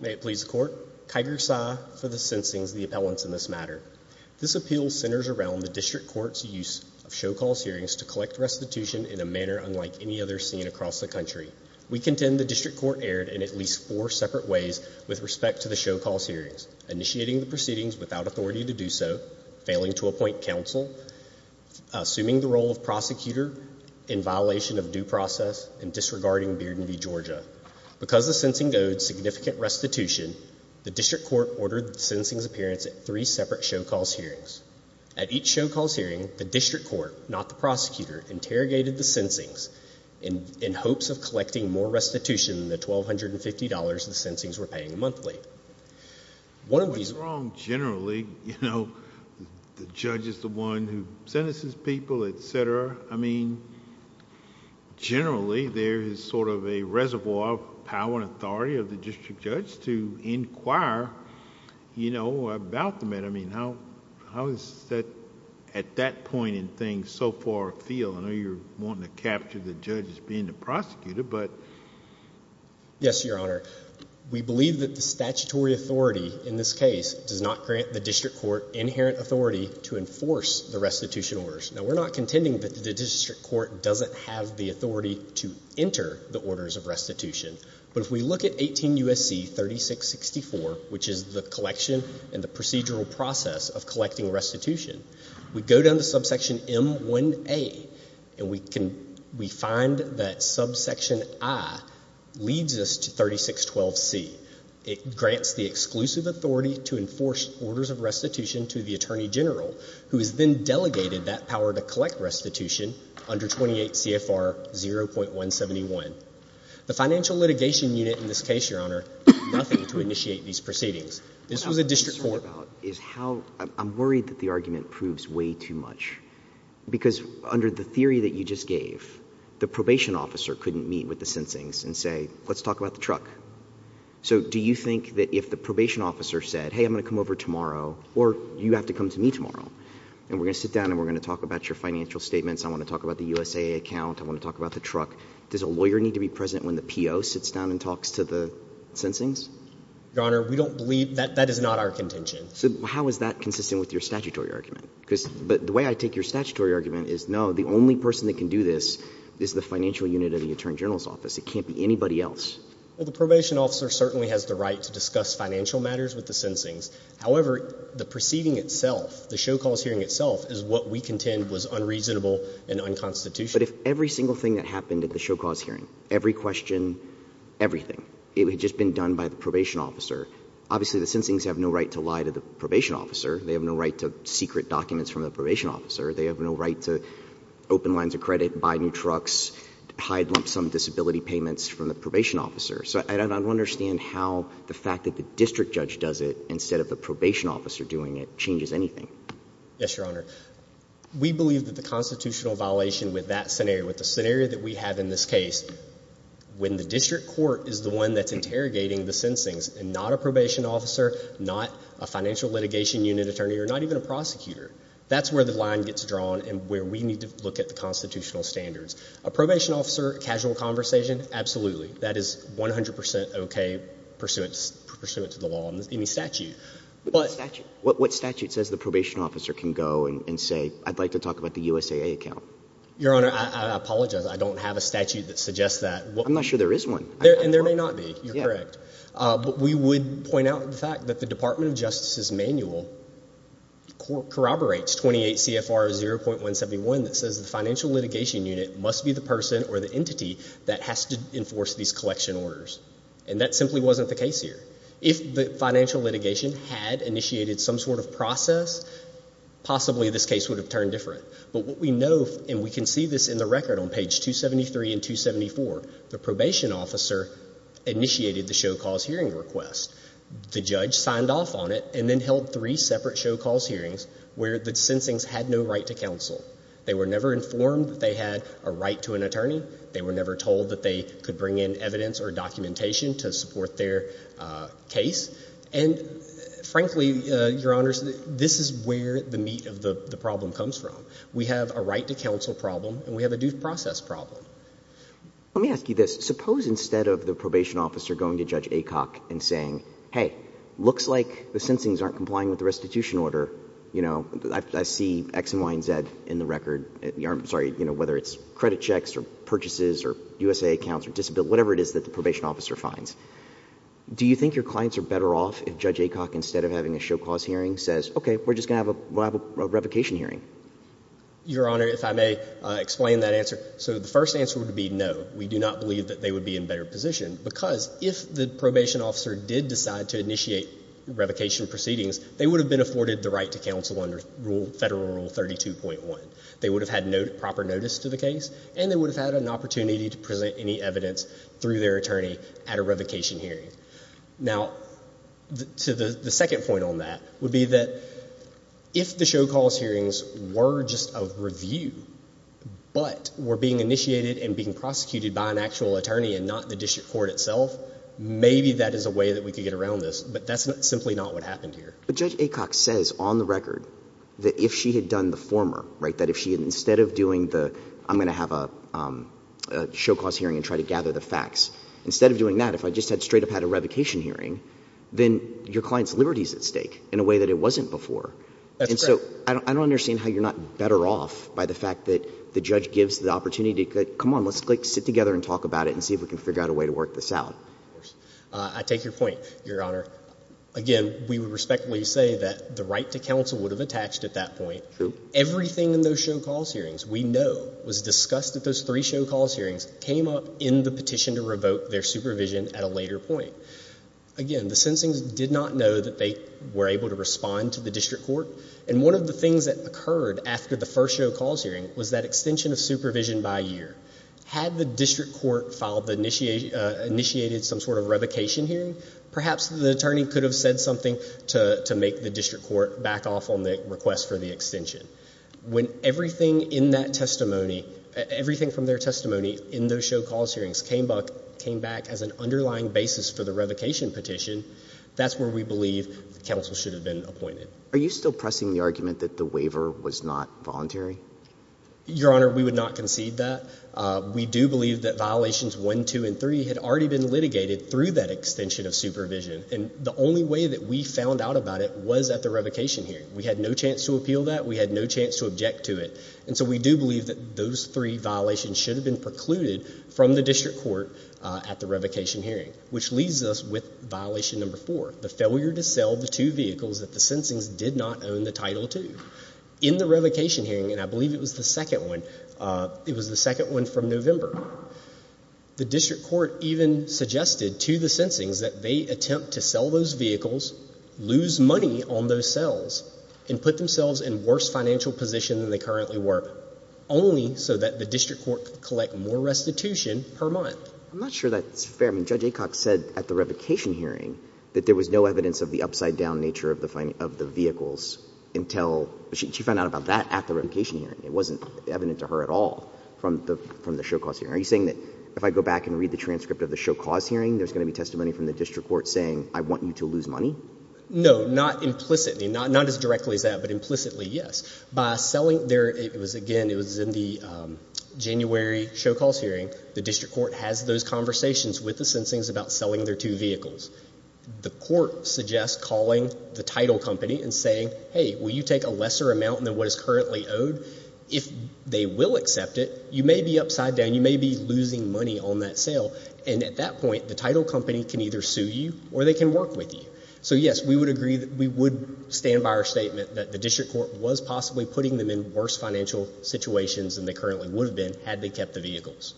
May it please the court, Kyger Sy for the Sensing's, the appellants in this matter. This appeal centers around the District Court's use of show-calls hearings to collect restitution in a manner unlike any other seen across the country. We contend the District Court erred in at least four separate ways with respect to the show-calls hearings, initiating the proceedings without authority to do so, failing to appoint counsel, assuming the role of prosecutor in violation of due process, and disregarding Bearden v. Georgia. Because the Sensing owed significant restitution, the District Court ordered the Sensing's appearance at three separate show-calls hearings. At each show-calls hearing, the District Court, not the prosecutor, interrogated the Sensing's in hopes of collecting more restitution than the $1,250 the Sensing's were paying monthly. What's wrong generally, you know, the judge is the one who sentences people, etc. I mean, generally there is sort of a reservoir of power and authority of the district judge to inquire, you know, about the matter. I mean, how is that, at that point in things, so far feel? I know you're wanting to capture the judge as being the prosecutor, but. Yes, Your Honor. We believe that the statutory authority in this case does not grant the district court the authority to enforce orders of restitution. But if we look at 18 U.S.C. 3664, which is the collection and the procedural process of collecting restitution, we go down to subsection M1A, and we can, we find that subsection I leads us to 3612C. It grants the exclusive authority to enforce orders of restitution to the Attorney General, who has then delegated that power to collect restitution under 28 CFR 0.171. The financial litigation unit in this case, Your Honor, did nothing to initiate these proceedings. This was a district court. What I'm concerned about is how, I'm worried that the argument proves way too much, because under the theory that you just gave, the probation officer couldn't meet with the Sensing's and say, let's talk about the truck. So do you think that if the probation officer said, hey, I'm going to come over tomorrow, or you have to come to me tomorrow, and we're going to sit and talk about your financial statements, I want to talk about the USAA account, I want to talk about the truck, does a lawyer need to be present when the PO sits down and talks to the Sensing's? Your Honor, we don't believe, that is not our contention. So how is that consistent with your statutory argument? Because, but the way I take your statutory argument is, no, the only person that can do this is the financial unit of the Attorney General's office. It can't be anybody else. Well, the probation officer certainly has the right to discuss financial matters with the Sensing's. However, the proceeding itself, the show cause hearing itself, is what we contend was unreasonable and unconstitutional. But if every single thing that happened at the show cause hearing, every question, everything, it had just been done by the probation officer, obviously the Sensing's have no right to lie to the probation officer. They have no right to secret documents from the probation officer. They have no right to open lines of credit, buy new trucks, hide lump sum disability payments from the probation officer. So I don't understand how the fact that the district judge does it Yes, Your Honor. We believe that the constitutional violation with that scenario, with the scenario that we have in this case, when the district court is the one that's interrogating the Sensing's and not a probation officer, not a financial litigation unit attorney, or not even a prosecutor, that's where the line gets drawn and where we need to look at the constitutional standards. A probation officer, casual conversation, absolutely. That is 100% okay pursuant to the law and any statute. What statute says the probation officer can go and say, I'd like to talk about the USAA account? Your Honor, I apologize. I don't have a statute that suggests that. I'm not sure there is one. And there may not be, you're correct. But we would point out the fact that the Department of Justice's manual corroborates 28 CFR 0.171 that says the financial litigation unit must be the person or the entity that has to enforce these collection orders. And that simply wasn't the case here. If the financial litigation had initiated some sort of process, possibly this case would have turned different. But what we know, and we can see this in the record on page 273 and 274, the probation officer initiated the show cause hearing request. The judge signed off on it and then held three separate show cause hearings where the Sensing's had no right to counsel. They were never informed that they had a right to an attorney. They were never told that they could bring in evidence or documentation to support their case. And frankly, Your Honors, this is where the meat of the problem comes from. We have a right to counsel problem and we have a due process problem. Let me ask you this. Suppose instead of the probation officer going to Judge Aycock and saying, hey, looks like the Sensing's aren't complying with the restitution order. I see X and Y and Z in the record. I'm sorry, whether it's credit checks or purchases or USA accounts or disability, whatever it is that the probation officer finds. Do you think your clients are better off if Judge Aycock, instead of having a show cause hearing, says, okay, we're just going to have a revocation hearing? Your Honor, if I may explain that answer. So the first answer would be no. We do not believe that they would be in a better position because if the probation officer did decide to initiate revocation proceedings, they would have been afforded the right to level 32.1. They would have had proper notice to the case and they would have had an opportunity to present any evidence through their attorney at a revocation hearing. Now, the second point on that would be that if the show cause hearings were just a review but were being initiated and being prosecuted by an actual attorney and not the district court itself, maybe that is a way that we could get around this. But that's simply not what happened here. But Judge Aycock says on the record that if she had done the former, right, that if she had instead of doing the, I'm going to have a show cause hearing and try to gather the facts, instead of doing that, if I just had straight up had a revocation hearing, then your client's liberty is at stake in a way that it wasn't before. And so I don't understand how you're not better off by the fact that the judge gives the opportunity to say, come on, let's like sit together and talk about it and see if we can figure out a way to work this out. I take your point, Your Honor. Again, we would respectfully say that the right to counsel would have attached at that point. Everything in those show cause hearings we know was discussed at those three show cause hearings came up in the petition to revoke their supervision at a later point. Again, the sensing did not know that they were able to respond to the district court. And one of the things that occurred after the first show cause hearing was that extension of supervision by year. Had the district court initiated some sort of revocation hearing, perhaps the attorney could have said something to make the district court back off on the request for the extension. When everything in that testimony, everything from their testimony in those show cause hearings came back as an underlying basis for the revocation petition, that's where we believe counsel should have been appointed. Are you still pressing the argument that the waiver was not voluntary? Your Honor, we would not concede that. We do believe that violations one, two, and three had already been litigated through that extension of supervision. And the only way that we found out about it was at the revocation hearing. We had no chance to appeal that. We had no chance to object to it. And so we do believe that those three violations should have been precluded from the district court at the revocation hearing, which leaves us with violation number four, the failure to sell the two vehicles that the sensings did not own the title to. In the revocation hearing, and I believe it was the second one, it was the second one from November, the district court even suggested to the sensings that they attempt to sell those vehicles, lose money on those sales, and put themselves in worse financial position than they currently were, only so that the district court could collect more restitution per month. I'm not sure that's fair. I mean, Judge Aycock said at the revocation hearing that there was no evidence of the upside-down nature of the vehicles until she found out about that at the revocation hearing. It wasn't evident to her at all from the show-cause hearing. Are you saying that if I go back and read the transcript of the show-cause hearing, there's going to be testimony from the district court saying, I want you to lose money? No, not implicitly. Not as directly as that, but implicitly, yes. By selling there, it was, again, it was in the January show-cause hearing. The district court has those conversations with the sensings about selling their two vehicles. The district court suggests calling the title company and saying, hey, will you take a lesser amount than what is currently owed? If they will accept it, you may be upside down. You may be losing money on that sale. And at that point, the title company can either sue you or they can work with you. So, yes, we would agree that we would stand by our statement that the district court was possibly putting them in worse financial situations than they currently would have been, had they kept the vehicles.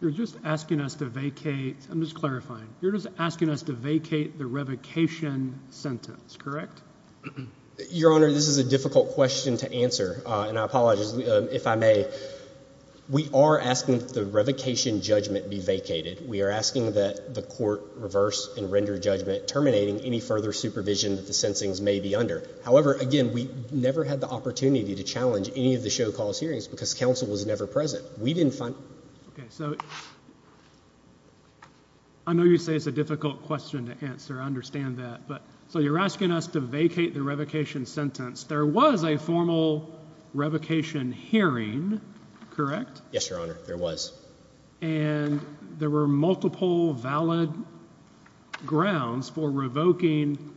You're just asking us to vacate, I'm just clarifying, you're just asking us to vacate the revocation sentence, correct? Your Honor, this is a difficult question to answer, and I apologize, if I may. We are asking that the revocation judgment be vacated. We are asking that the court reverse and render judgment, terminating any further supervision that the sensings may be under. However, again, we never had the opportunity to challenge any of the show-cause hearings because counsel was never present. We didn't find... Okay, so, I know you say it's a difficult question to answer, I understand that. So, you're asking us to vacate the revocation sentence. There was a formal revocation hearing, correct? Yes, Your Honor, there was. And there were multiple valid grounds for revoking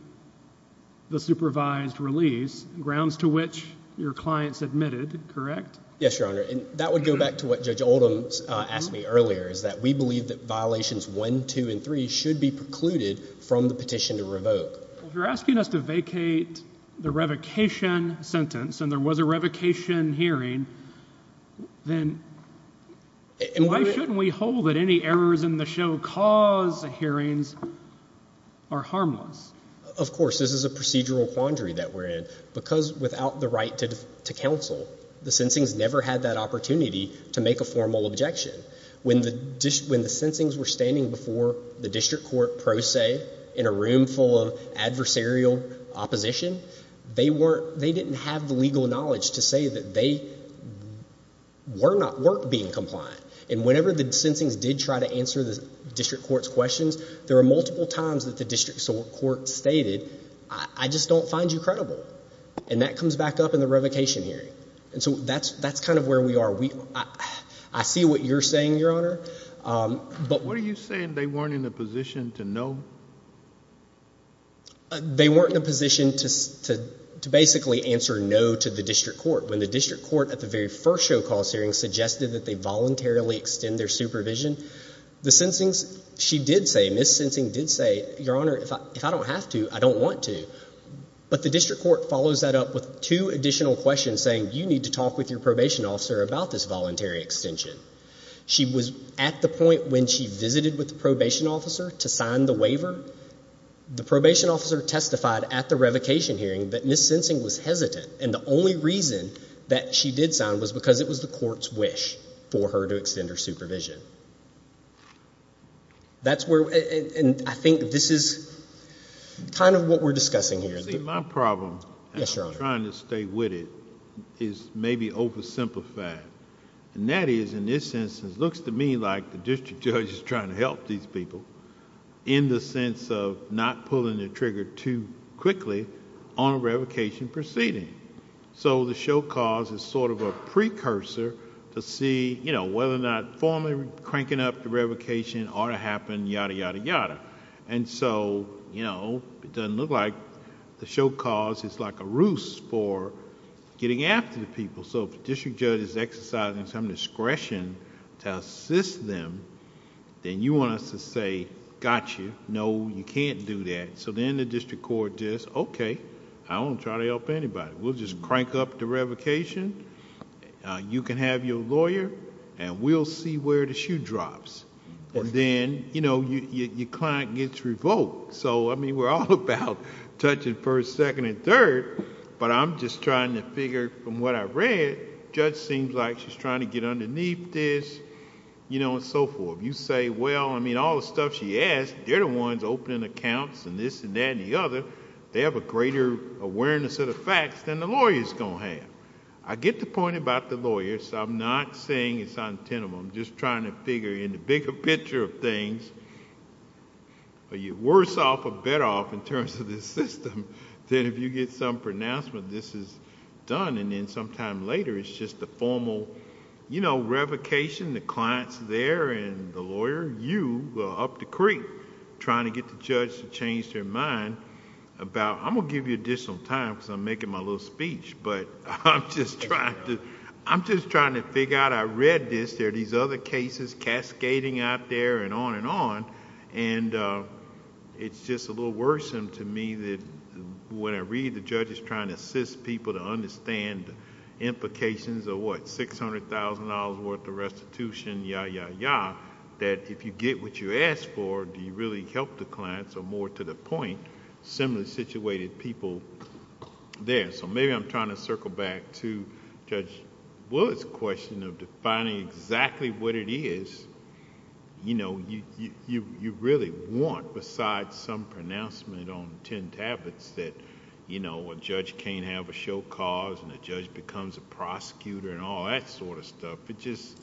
the supervised release, grounds to which your clients admitted, correct? Yes, Your Honor, and that would go back to what is that we believe that violations 1, 2, and 3 should be precluded from the petition to revoke. If you're asking us to vacate the revocation sentence, and there was a revocation hearing, then why shouldn't we hold that any errors in the show-cause hearings are harmless? Of course, this is a procedural quandary that we're in, because without the right to counsel, the sensings never had that opportunity to make a formal objection. When the sensings were standing before the district court pro se in a room full of adversarial opposition, they didn't have the legal knowledge to say that they were not worth being compliant. And whenever the sensings did try to answer the district court's questions, there were multiple times that the district court stated, I just don't find you credible. And that comes back up in the revocation hearing. And so that's kind of where we are. I see what you're saying, Your Honor. But what are you saying they weren't in a position to know? They weren't in a position to basically answer no to the district court. When the district court at the very first show-cause hearing suggested that they voluntarily extend their supervision, the sensings, she did say, Ms. Sensing did say, Your Honor, if I don't have to, I don't want to. But the district court follows that up with two additional questions saying, you need to talk with your probation officer about this voluntary extension. She was at the point when she visited with the probation officer to sign the waiver. The probation officer testified at the revocation hearing that Ms. Sensing was hesitant. And the only reason that she did sign was because it was the court's wish for her to extend her supervision. That's where, and I think this is kind of what we're discussing here. See, my problem, and I'm trying to stay with it, is maybe oversimplified. And that is, in this instance, looks to me like the district judge is trying to help these people in the sense of not pulling the trigger too quickly on a revocation proceeding. So the show-cause is sort of a cranking up the revocation, ought to happen, yada, yada, yada. And so, it doesn't look like the show-cause is like a ruse for getting after the people. So if the district judge is exercising some discretion to assist them, then you want us to say, got you, no, you can't do that. So then the district court just, okay, I won't try to help anybody. We'll just crank up the revocation. If the issue drops, then your client gets revoked. So, I mean, we're all about touching first, second, and third, but I'm just trying to figure from what I've read, judge seems like she's trying to get underneath this and so forth. You say, well, I mean, all the stuff she asked, they're the ones opening accounts and this and that and the other. They have a greater awareness of the facts than the lawyer's going to have. I get the point about the lawyers. I'm not saying it's untenable. I'm just trying to figure in the bigger picture of things, are you worse off or better off in terms of this system than if you get some pronouncement this is done and then sometime later, it's just the formal revocation, the client's there and the lawyer, you, up the creek trying to get the judge to change their mind about, I'm going to give you additional time because I'm making my little speech, but I'm just trying to figure out, I read this, there are these other cases cascading out there and on and on, and it's just a little worrisome to me that when I read the judge is trying to assist people to understand the implications of what, $600,000 worth of restitution, yeah, yeah, yeah, that if you get what you asked for, do you really help the clients or more to the point, similarly situated people there. Maybe I'm trying to circle back to Judge Willard's question of defining exactly what it is you really want besides some pronouncement on ten tablets that a judge can't have a show cause and a judge becomes a prosecutor and all that sort of stuff. It just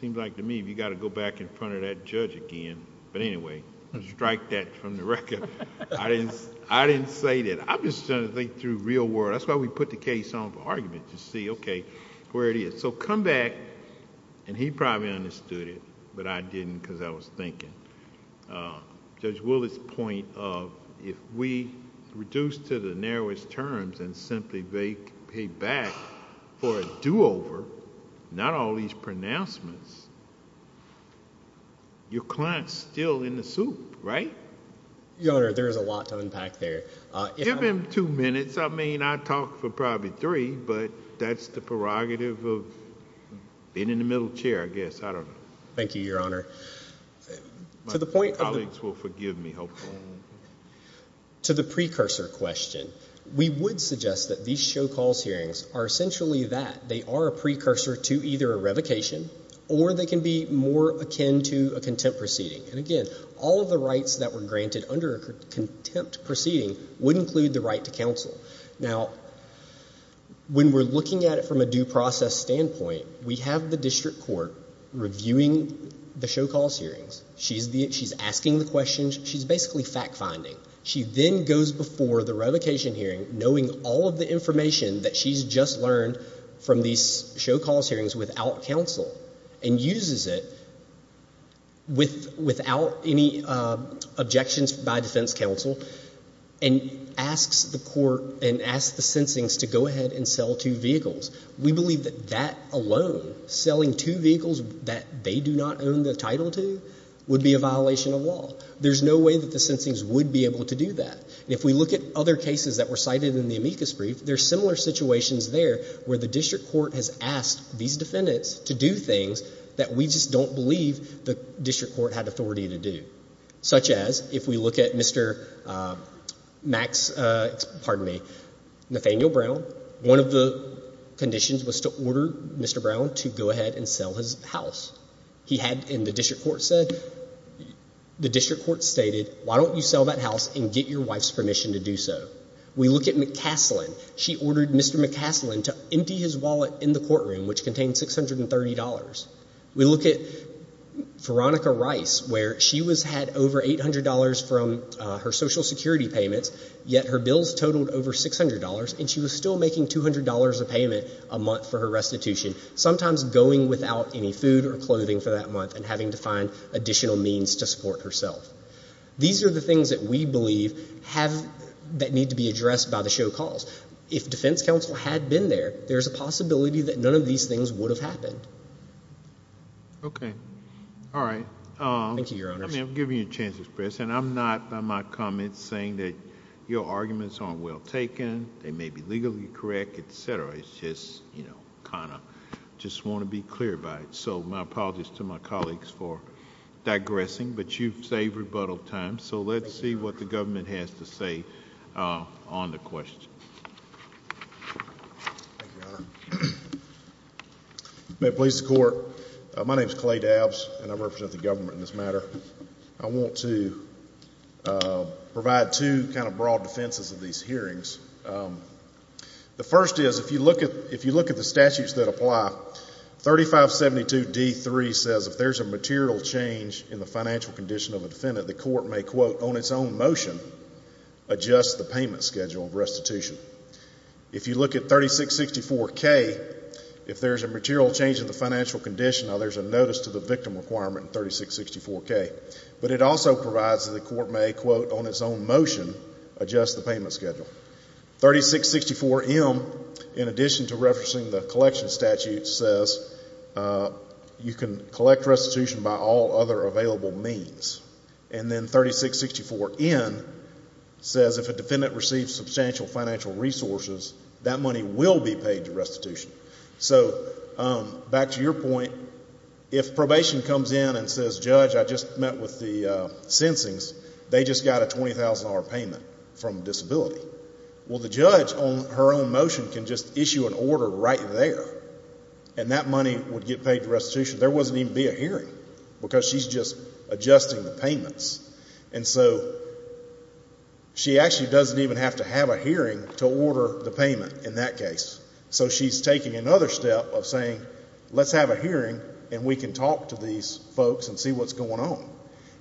seems like to me, you got to go back in front of that judge again, but anyway, strike that from the record. I didn't say that. I'm just trying to think through real world. That's why we put the case on for argument to see, okay, where it is. Come back, and he probably understood it, but I didn't because I was thinking. Judge Willard's point of if we reduce to the narrowest terms and simply pay back for a do-over, not all these pronouncements, your client's still in the soup, right? Your Honor, there's a lot to unpack there. Give him two minutes. I mean, I talked for probably three, but that's the prerogative of being in the middle chair, I guess. I don't know. Thank you, Your Honor. My colleagues will forgive me, hopefully. To the precursor question, we would suggest that these show cause hearings are essentially that. They can be a precursor to either a revocation, or they can be more akin to a contempt proceeding. And again, all of the rights that were granted under contempt proceeding would include the right to counsel. Now, when we're looking at it from a due process standpoint, we have the district court reviewing the show cause hearings. She's asking the questions. She's basically fact finding. She then goes before the revocation hearing knowing all of the information that she's just learned from these show cause hearings without counsel, and uses it without any objections by defense counsel, and asks the court and asks the sensing to go ahead and sell two vehicles. We believe that that alone, selling two vehicles that they do not own the title to, would be a violation of law. There's no way that the sensing would be able to do that. If we look at other cases that were cited in the amicus brief, there's similar situations there where the district court has asked these defendants to do things that we just don't believe the district court had authority to do. Such as, if we look at Mr. Max, pardon me, Nathaniel Brown, one of the conditions was to order Mr. Brown to go ahead and sell his house. He had in the district court said, the district court stated, why don't you sell that house and get your wife's permission to do so. We look at McCaslin, she ordered Mr. McCaslin to empty his wallet in the courtroom, which contained $630. We look at Veronica Rice, where she was had over $800 from her social security payments, yet her bills totaled over $600, and she was still making $200 a payment a month for her restitution, sometimes going without any food or clothing for that month, and having to find additional means to support herself. These are the things that we believe have, that need to be addressed by the show calls. If defense counsel had been there, there's a possibility that none of these things would have happened. Okay. All right. Thank you, your honor. I'm giving you a chance to express, and I'm not, by my comments, saying that your arguments aren't well taken, they may be legally correct, etc. It's just, you know, kind of, just want to be clear about it. So my apologies to my colleagues for digressing, but you've saved rebuttal time, so let's see what the government has to say on the question. Thank you, your honor. May it please the court, my name is Clay Dabbs, and I represent the government in this matter. I want to provide two, kind of, broad defenses of these hearings. The first is, if you look at, if you look at the statutes that apply, 3572D3 says if there's a material change in the financial condition of a defendant, the court may, quote, on its own motion, adjust the payment schedule of restitution. If you look at 3664K, if there's a material change in the financial condition, there's a notice to the victim requirement in 3664K. But it also provides that the court may, quote, on its own motion, adjust the payment schedule. 3664M, in addition to referencing the collection statute, says you can collect restitution by all other available means. And then 3664N says if a defendant receives substantial financial resources, that money will be paid to restitution. So back to your point, if probation comes in and says, judge, I just met with the sensings. They just got a $20,000 payment from disability. Well, the judge on her own motion can just issue an order right there, and that money would get paid to restitution. There wouldn't even be a hearing because she's just adjusting the payments. And so she actually doesn't even have to have a hearing to order the payment in that case. So she's taking another step of saying, let's have a hearing and we can talk to these folks and see what's going on.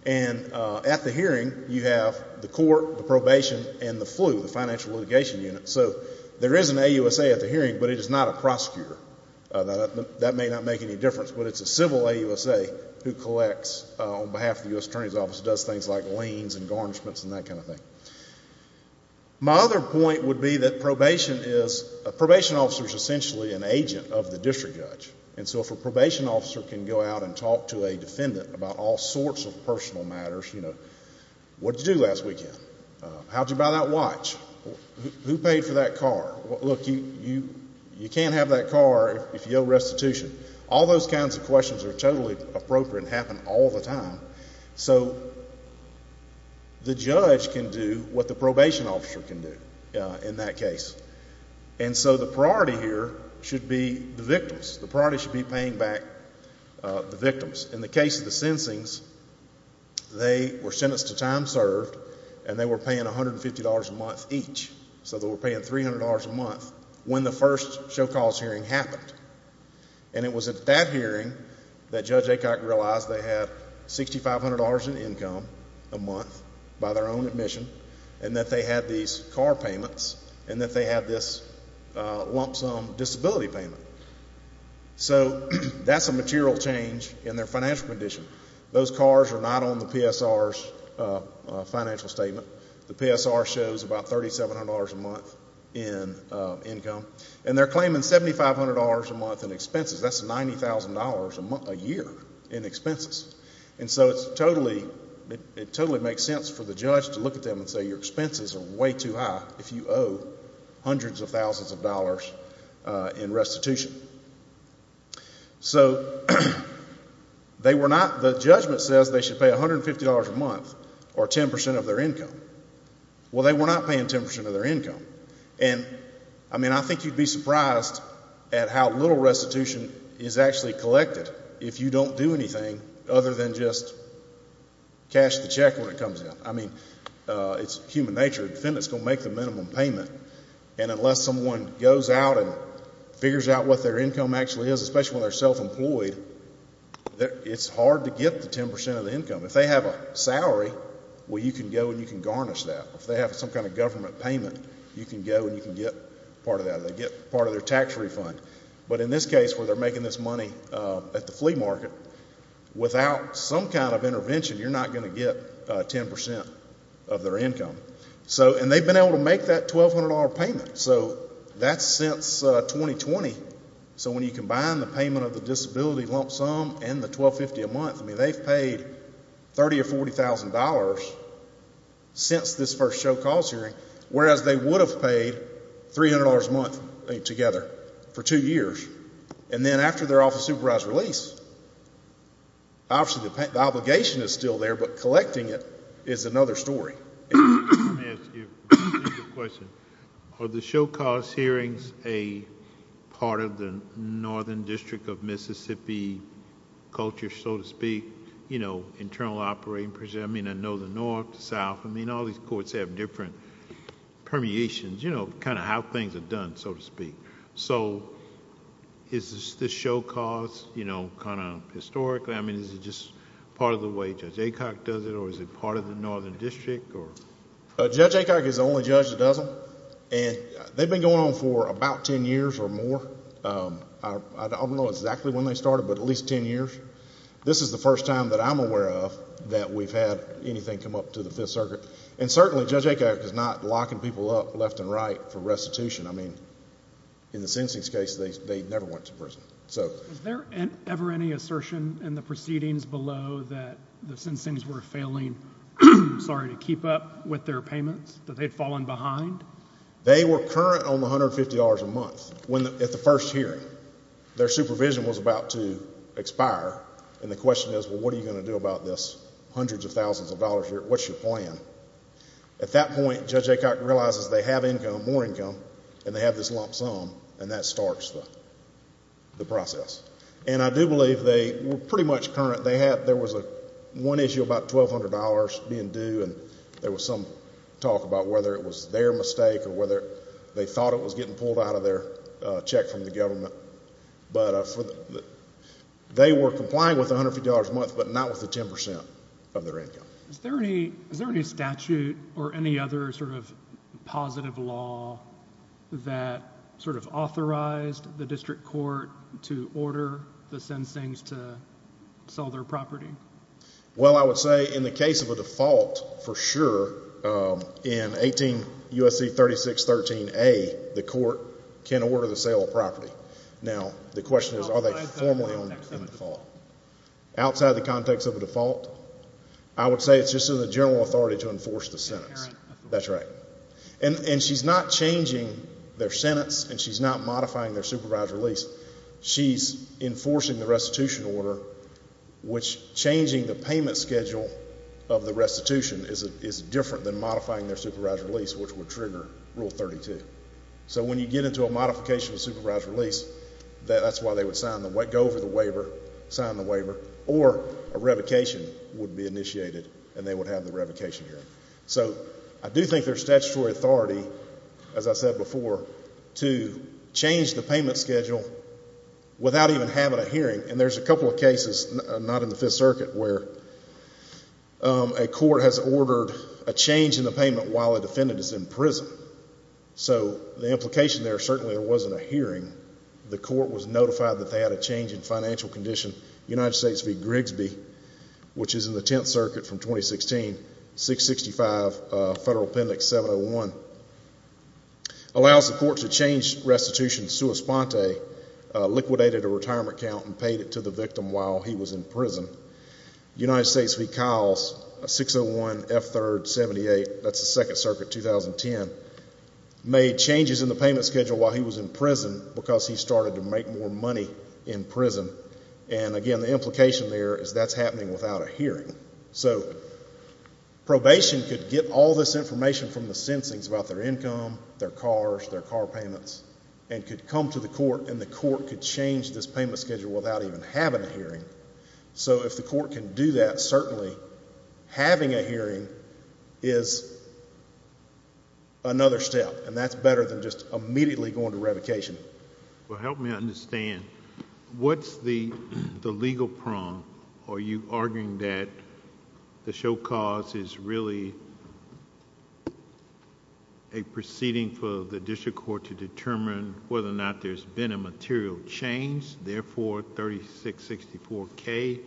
And at the hearing, you have the court, the probation, and the flu, the financial litigation unit. So there is an AUSA at the hearing, but it is not a prosecutor. That may not make any difference, but it's a civil AUSA who collects on behalf of the U.S. Attorney's Office, does things like liens and garnishments and that kind of thing. My other point would be that probation is, a probation officer is essentially an agent of a defendant about all sorts of personal matters. What did you do last weekend? How did you buy that watch? Who paid for that car? Look, you can't have that car if you owe restitution. All those kinds of questions are totally appropriate and happen all the time. So the judge can do what the probation officer can do in that case. And so the priority here should be the victims. The priority should be paying back the victims. In the case of the sensings, they were sentenced to time served and they were paying $150 a month each. So they were paying $300 a month when the first show cause hearing happened. And it was at that hearing that Judge Acock realized they had $6,500 in income a month by their own admission and that they had these car payments and that they had this lump sum disability payment. So that's a material change in their financial condition. Those cars are not on the PSR's financial statement. The PSR shows about $3,700 a month in income. And they're claiming $7,500 a month in expenses. That's $90,000 a year in expenses. And so it totally makes sense for the judge to look at them and say your expenses are way too high if you owe hundreds of thousands of dollars in restitution. So they were not, the judgment says they should pay $150 a month or 10% of their income. Well, they were not paying 10% of their income. And, I mean, I think you'd be surprised at how little restitution is actually collected if you don't do anything other than just cash the it's human nature. The defendant's going to make the minimum payment. And unless someone goes out and figures out what their income actually is, especially when they're self-employed, it's hard to get the 10% of the income. If they have a salary, well, you can go and you can garnish that. If they have some kind of government payment, you can go and you can get part of that. They get part of their tax refund. But in this case where they're making this money at the And they've been able to make that $1,200 payment. So that's since 2020. So when you combine the payment of the disability lump sum and the $1,250 a month, I mean, they've paid $30,000 or $40,000 since this first show cause hearing, whereas they would have paid $300 a month together for two years. And then after they're off of supervised release, obviously, the obligation is still there, but collecting it is another story. Let me ask you a question. Are the show cause hearings a part of the Northern District of Mississippi culture, so to speak, internal operating procedure? I mean, I know the North, the South. I mean, all these courts have different permeations, kind of how things are done, so to speak. So is this show cause kind of historically? I mean, is it just part of the way Judge Acock does it or is it part of the Northern District? Judge Acock is the only judge that does them. And they've been going on for about 10 years or more. I don't know exactly when they started, but at least 10 years. This is the first time that I'm aware of that we've had anything come up to the Fifth Circuit. And certainly Judge Acock is not locking people up for restitution. I mean, in the Sensings case, they never went to prison. Was there ever any assertion in the proceedings below that the Sensings were failing to keep up with their payments, that they'd fallen behind? They were current on the $150 a month at the first hearing. Their supervision was about to expire. And the question is, well, what are you going to do about this hundreds of thousands of dollars a year? What's your plan? At that point, Judge Acock realizes they have income, more income, and they have this lump sum, and that starts the process. And I do believe they were pretty much current. There was one issue about $1,200 being due, and there was some talk about whether it was their mistake or whether they thought it was getting pulled out of their check from the government. But they were complying with the $150 a month, but not with the 10% of their income. Is there any statute or any others or positive law that sort of authorized the district court to order the Sensings to sell their property? Well, I would say in the case of a default, for sure, in 18 U.S.C. 3613A, the court can order the sale of property. Now, the question is, are they formally on that default? Outside the context of a default, I would say it's just in the general authority to enforce the sentence. That's right. And she's not changing their sentence, and she's not modifying their supervised release. She's enforcing the restitution order, which changing the payment schedule of the restitution is different than modifying their supervised release, which would trigger Rule 32. So when you get into a modification of supervised release, that's why they would go over the waiver, sign the waiver, or a revocation would be initiated, and they would have the revocation hearing. So I do think there's statutory authority, as I said before, to change the payment schedule without even having a hearing. And there's a couple of cases, not in the Fifth Circuit, where a court has ordered a change in the payment while a defendant is in prison. So the implication there, certainly there wasn't a hearing. The court was notified that they had a change in financial condition, United States v. Grigsby, which is in the Tenth Circuit from 2016, 665 Federal Appendix 701, allows the court to change restitution sua sponte, liquidated a retirement account and paid it to the victim while he was in prison. United States v. Kiles, 601 F3rd 78, that's the Second Circuit, 2010, made changes in the payment schedule while he was in prison because he started to make more money in prison. And again, the implication there is that's happening without a hearing. So probation could get all this information from the sensings about their income, their cars, their car payments, and could come to the court, and the court could change this payment schedule without even having a hearing. So if the court can do that, certainly having a hearing is another step, and that's better than just immediately going to revocation. Well, help me understand. What's the legal prong? Are you arguing that the show cause is really a proceeding for the district court to determine whether or not there's been a material change, therefore 3664K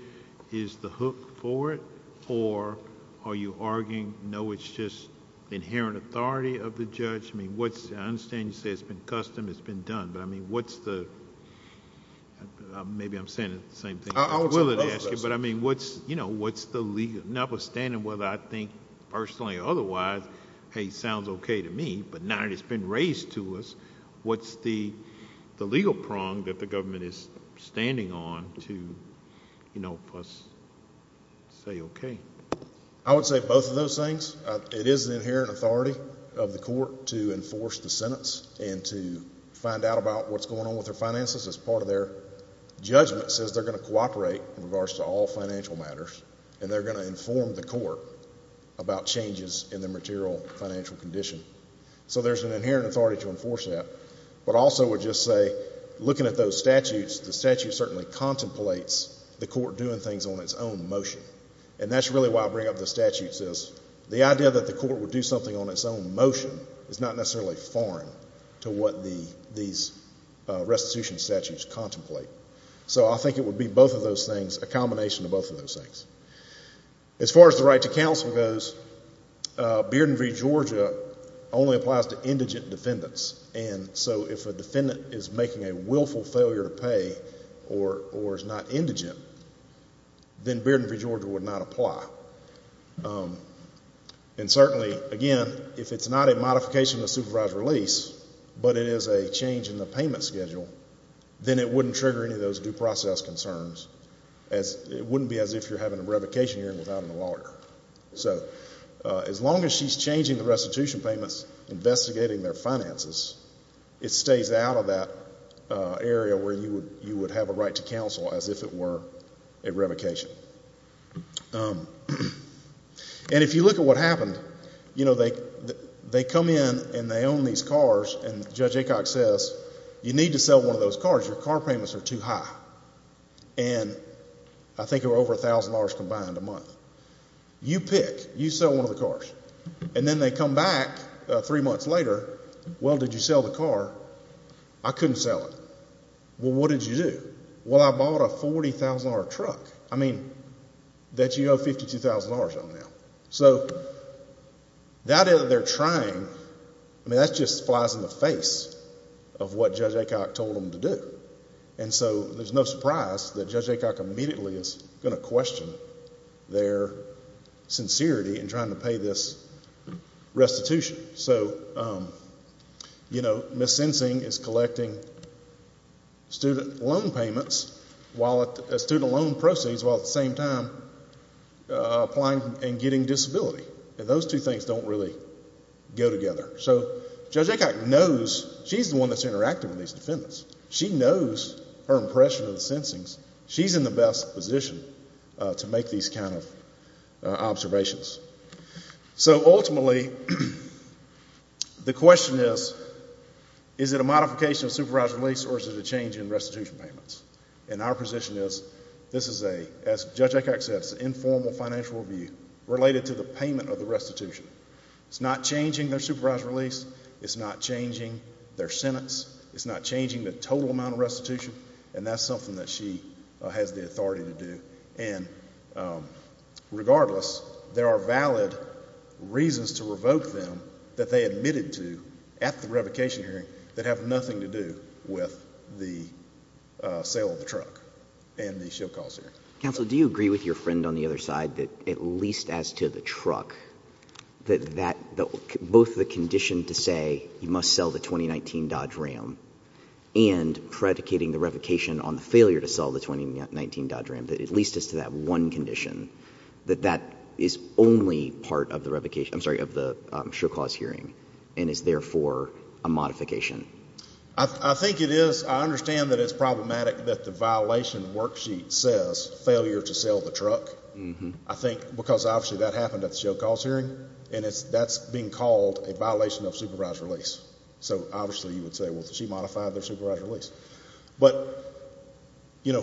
is the hook for it? Or are you arguing, no, it's just inherent authority of the judge? I understand you say it's been custom, it's been done, but I mean, what's the... Maybe I'm saying the same thing. I would say both of those things. But I mean, what's the legal... Notwithstanding whether I think personally or otherwise, hey, sounds okay to me, but now that it's been raised to us, what's the legal prong that the government is standing on to help us say okay? I would say both of those things. It is an inherent authority of the court to enforce the sentence and to find out about what's going on with their finances as part of their judgment says they're going to cooperate in regards to all financial matters, and they're going to inform the court about changes in the material financial condition. So there's an inherent authority to enforce that, but also would just say, looking at those statutes, the statute certainly contemplates the court doing things on its own motion, and that's really why I bring up the statutes is the idea that the court would do something on its own motion is not necessarily foreign to what these restitution statutes contemplate. So I think it would be both of those things, a combination of both of those things. As far as the right to counsel goes, Bearden v. Georgia only applies to indigent defendants, and so if a defendant is making a willful failure to pay or is not indigent, then Bearden v. Georgia would not apply. And certainly, again, if it's not a modification of the supervised release, but it is a change in the payment schedule, then it wouldn't trigger any of those due process concerns. It wouldn't be as if you're having a revocation hearing without a lawyer. So as long as she's changing the restitution payments, investigating their finances, it stays out of that area where you would have a right to counsel as if it were a revocation. And if you look at what happened, you know, they come in and they own these cars, and Judge Acock says, you need to sell one of those cars. Your car payments are too high. And I think it was over $1,000 combined a month. You pick. You sell one of the cars. And then they come back three months later, well, did you sell the car? I couldn't sell it. Well, what did you do? Well, I bought a $40,000 truck. I mean, that you owe $52,000 on now. So that they're trying, I mean, that just flies in the face of what Judge Acock told them to do. And so there's no surprise that Judge Acock immediately is going to question their sincerity in trying to pay this restitution. So, you know, Ms. Sensing is collecting student loan payments, student loan proceeds, while at the same time applying and getting disability. And those two things don't really go together. So Judge Acock knows, she's the one that's interacting with these defendants. She knows her impression of position to make these kind of observations. So ultimately, the question is, is it a modification of supervised release or is it a change in restitution payments? And our position is, this is a, as Judge Acock said, it's an informal financial review related to the payment of the restitution. It's not changing their supervised release. It's not changing their sentence. It's not changing the total amount of restitution. And that's something that she has the authority to do. And regardless, there are valid reasons to revoke them that they admitted to at the revocation hearing that have nothing to do with the sale of the truck and the show cause hearing. Counsel, do you agree with your friend on the other side that at least as to the truck, that both the condition to say you must sell the 2019 Dodge Ram and predicating the revocation on the failure to sell the 2019 Dodge Ram, that at least as to that one condition, that that is only part of the revocation, I'm sorry, of the show cause hearing and is therefore a modification? I think it is. I understand that it's problematic that the violation worksheet says failure to sell the truck. I think because obviously that happened at the show cause hearing and that's being called a violation of supervised release. So obviously, you would say, well, she modified their supervised release. But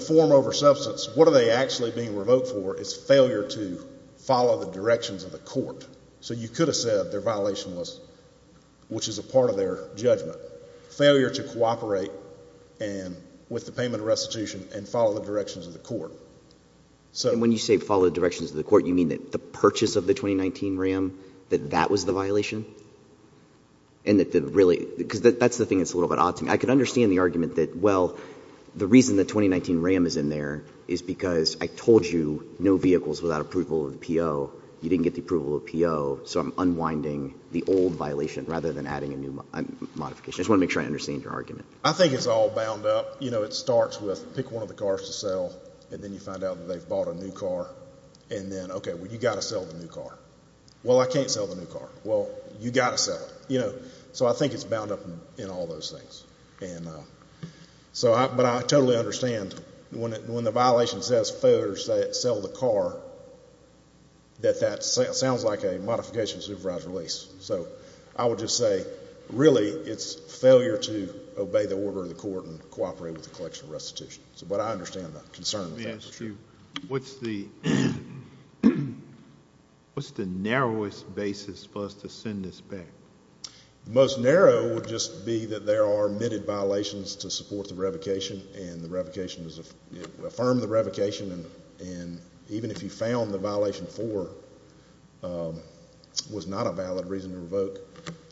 form over substance, what are they actually being revoked for is failure to follow the directions of the court. So you could have said their violation was, which is a part of their judgment, failure to cooperate with the payment restitution and follow the directions of the court. When you say follow the directions of the court, you mean that the purchase of the 2019 Ram, that that was the violation? Because that's the thing that's a little bit odd to me. I could understand the argument that, well, the reason the 2019 Ram is in there is because I told you no vehicles without approval of PO. You didn't get the approval of PO. So I'm unwinding the old violation rather than adding a new modification. I just want to make sure I understand your argument. I think it's all bound up. It starts with pick one of the cars to sell and then you find out that they've bought a new car and then, okay, well, you got to sell the new car. Well, I can't sell the new car. Well, you got to sell it. So I think it's bound up in all those things. But I totally understand when the violation says failure to sell the car, that that sounds like a modification supervised release. So I would just say, really, it's failure to obey the order of the court and cooperate with the collection of restitution. So, but I understand the concern. Yeah, it's true. What's the narrowest basis for us to send this back? The most narrow would just be that there are admitted violations to support the revocation and the revocation is, affirm the revocation. And even if you found the violation four was not a valid reason to revoke,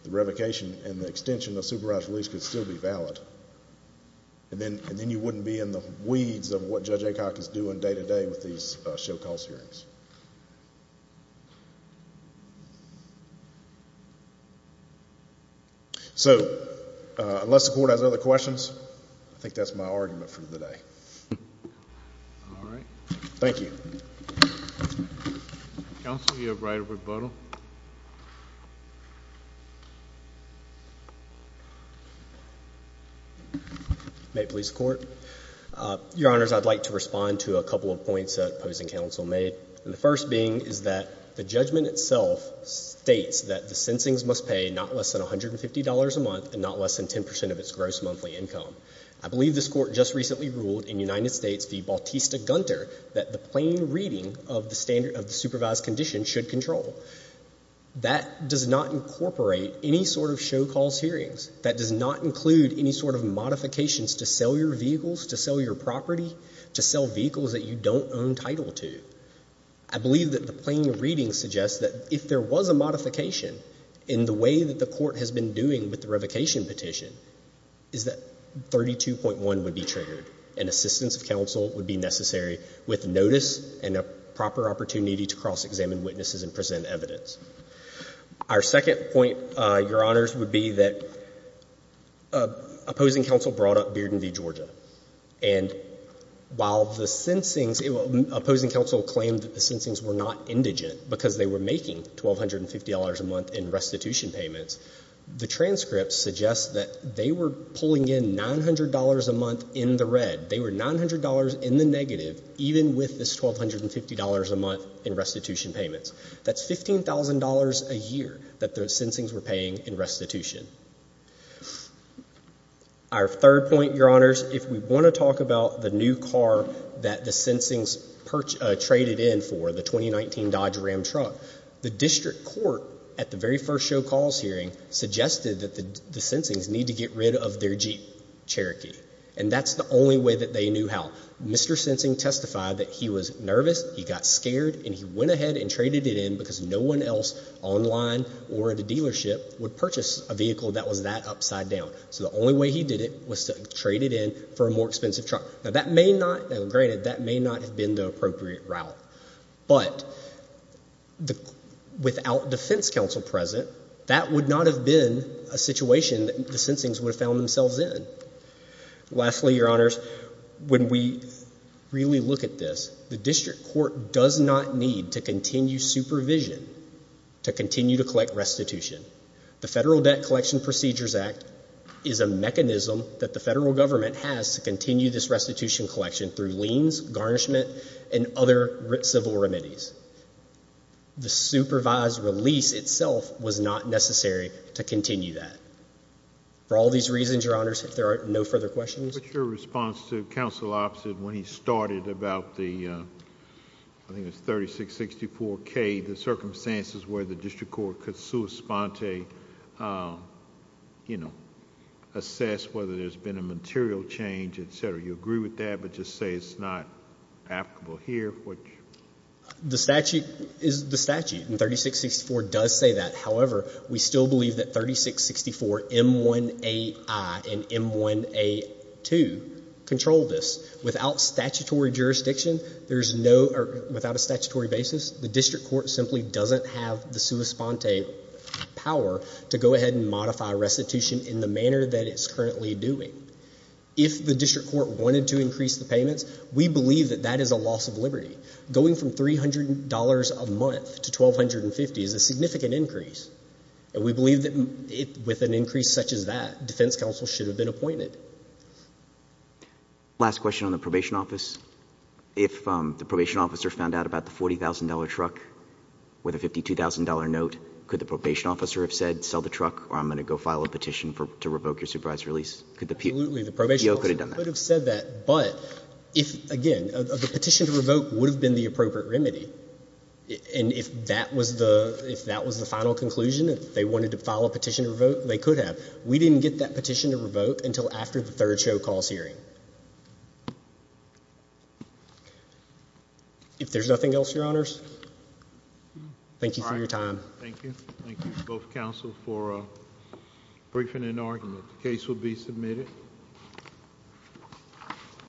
the revocation and the extension of supervised release could still be valid. And then you wouldn't be in the weeds of what Judge Acock is doing day to day with these show calls hearings. So unless the court has other questions, I think that's my argument for the day. All right. Thank you. Counsel, you have right of rebuttal. May it please the court. Your honors, I'd like to respond to a couple of points that opposing counsel made. And the first being is that the judgment itself states that the sensings must pay not less than $150 a month and not less than 10% of its gross monthly income. I believe this court just recently ruled in United States v. Bautista-Gunter that the plain reading of the standard of the supervised condition should control. That does not incorporate any sort of modifications to sell your vehicles, to sell your property, to sell vehicles that you don't own title to. I believe that the plain reading suggests that if there was a modification in the way that the court has been doing with the revocation petition, is that 32.1 would be triggered and assistance of counsel would be necessary with notice and a proper opportunity to cross-examine witnesses and present evidence. Our second point, your honors, would be that opposing counsel brought up Bearden v. Georgia. And while the sensings, opposing counsel claimed that the sensings were not indigent because they were making $1,250 a month in restitution payments, the transcript suggests that they were pulling in $900 a month in the red. They were $900 in the negative even with this $1,250 a month in restitution payments. That's $15,000 a year that the sensings were paying in restitution. Our third point, your honors, if we want to talk about the new car that the sensings traded in for, the 2019 Dodge Ram truck, the district court at the very first show calls hearing suggested that the sensings need to get rid of their Jeep Cherokee. And that's the only way that they knew how. Mr. Sensing testified that he was nervous, he got scared, and he went ahead and traded it in because no one else online or at a dealership would purchase a vehicle that was that upside down. So the only way he did it was to trade it in for a more expensive truck. Now that may not, granted, that may not have been the appropriate route. But without defense counsel present, that would not have been a situation that the court does not need to continue supervision to continue to collect restitution. The Federal Debt Collection Procedures Act is a mechanism that the federal government has to continue this restitution collection through liens, garnishment, and other civil remedies. The supervised release itself was not necessary to continue that. For all these reasons, your honors, if there are no further questions. What's your response to counsel opposite when he started about the, I think it's 3664K, the circumstances where the district court could sui sponte, you know, assess whether there's been a material change, etc. You agree with that, but just say it's not applicable here? The statute is the statute and 3664 does say that. However, we still believe that 3664M1AI and M1A2 control this. Without statutory jurisdiction, there's no, or without a statutory basis, the district court simply doesn't have the sui sponte power to go ahead and modify restitution in the manner that it's currently doing. If the district court wanted to increase the payments, we believe that that is a loss of liberty. Going from $300 a month to $1,250 is a significant increase. And we believe that with an increase such as that, defense counsel should have been appointed. Last question on the probation office. If the probation officer found out about the $40,000 truck with a $52,000 note, could the probation officer have said, sell the truck, or I'm going to go file a petition to revoke your supervised release? Absolutely, the probation officer could have said that, but if, again, the petition to revoke, if that was the final conclusion, if they wanted to file a petition to revoke, they could have. We didn't get that petition to revoke until after the third show cause hearing. If there's nothing else, your honors, thank you for your time. Thank you. Thank you both counsel for briefing and argument. The case will be submitted.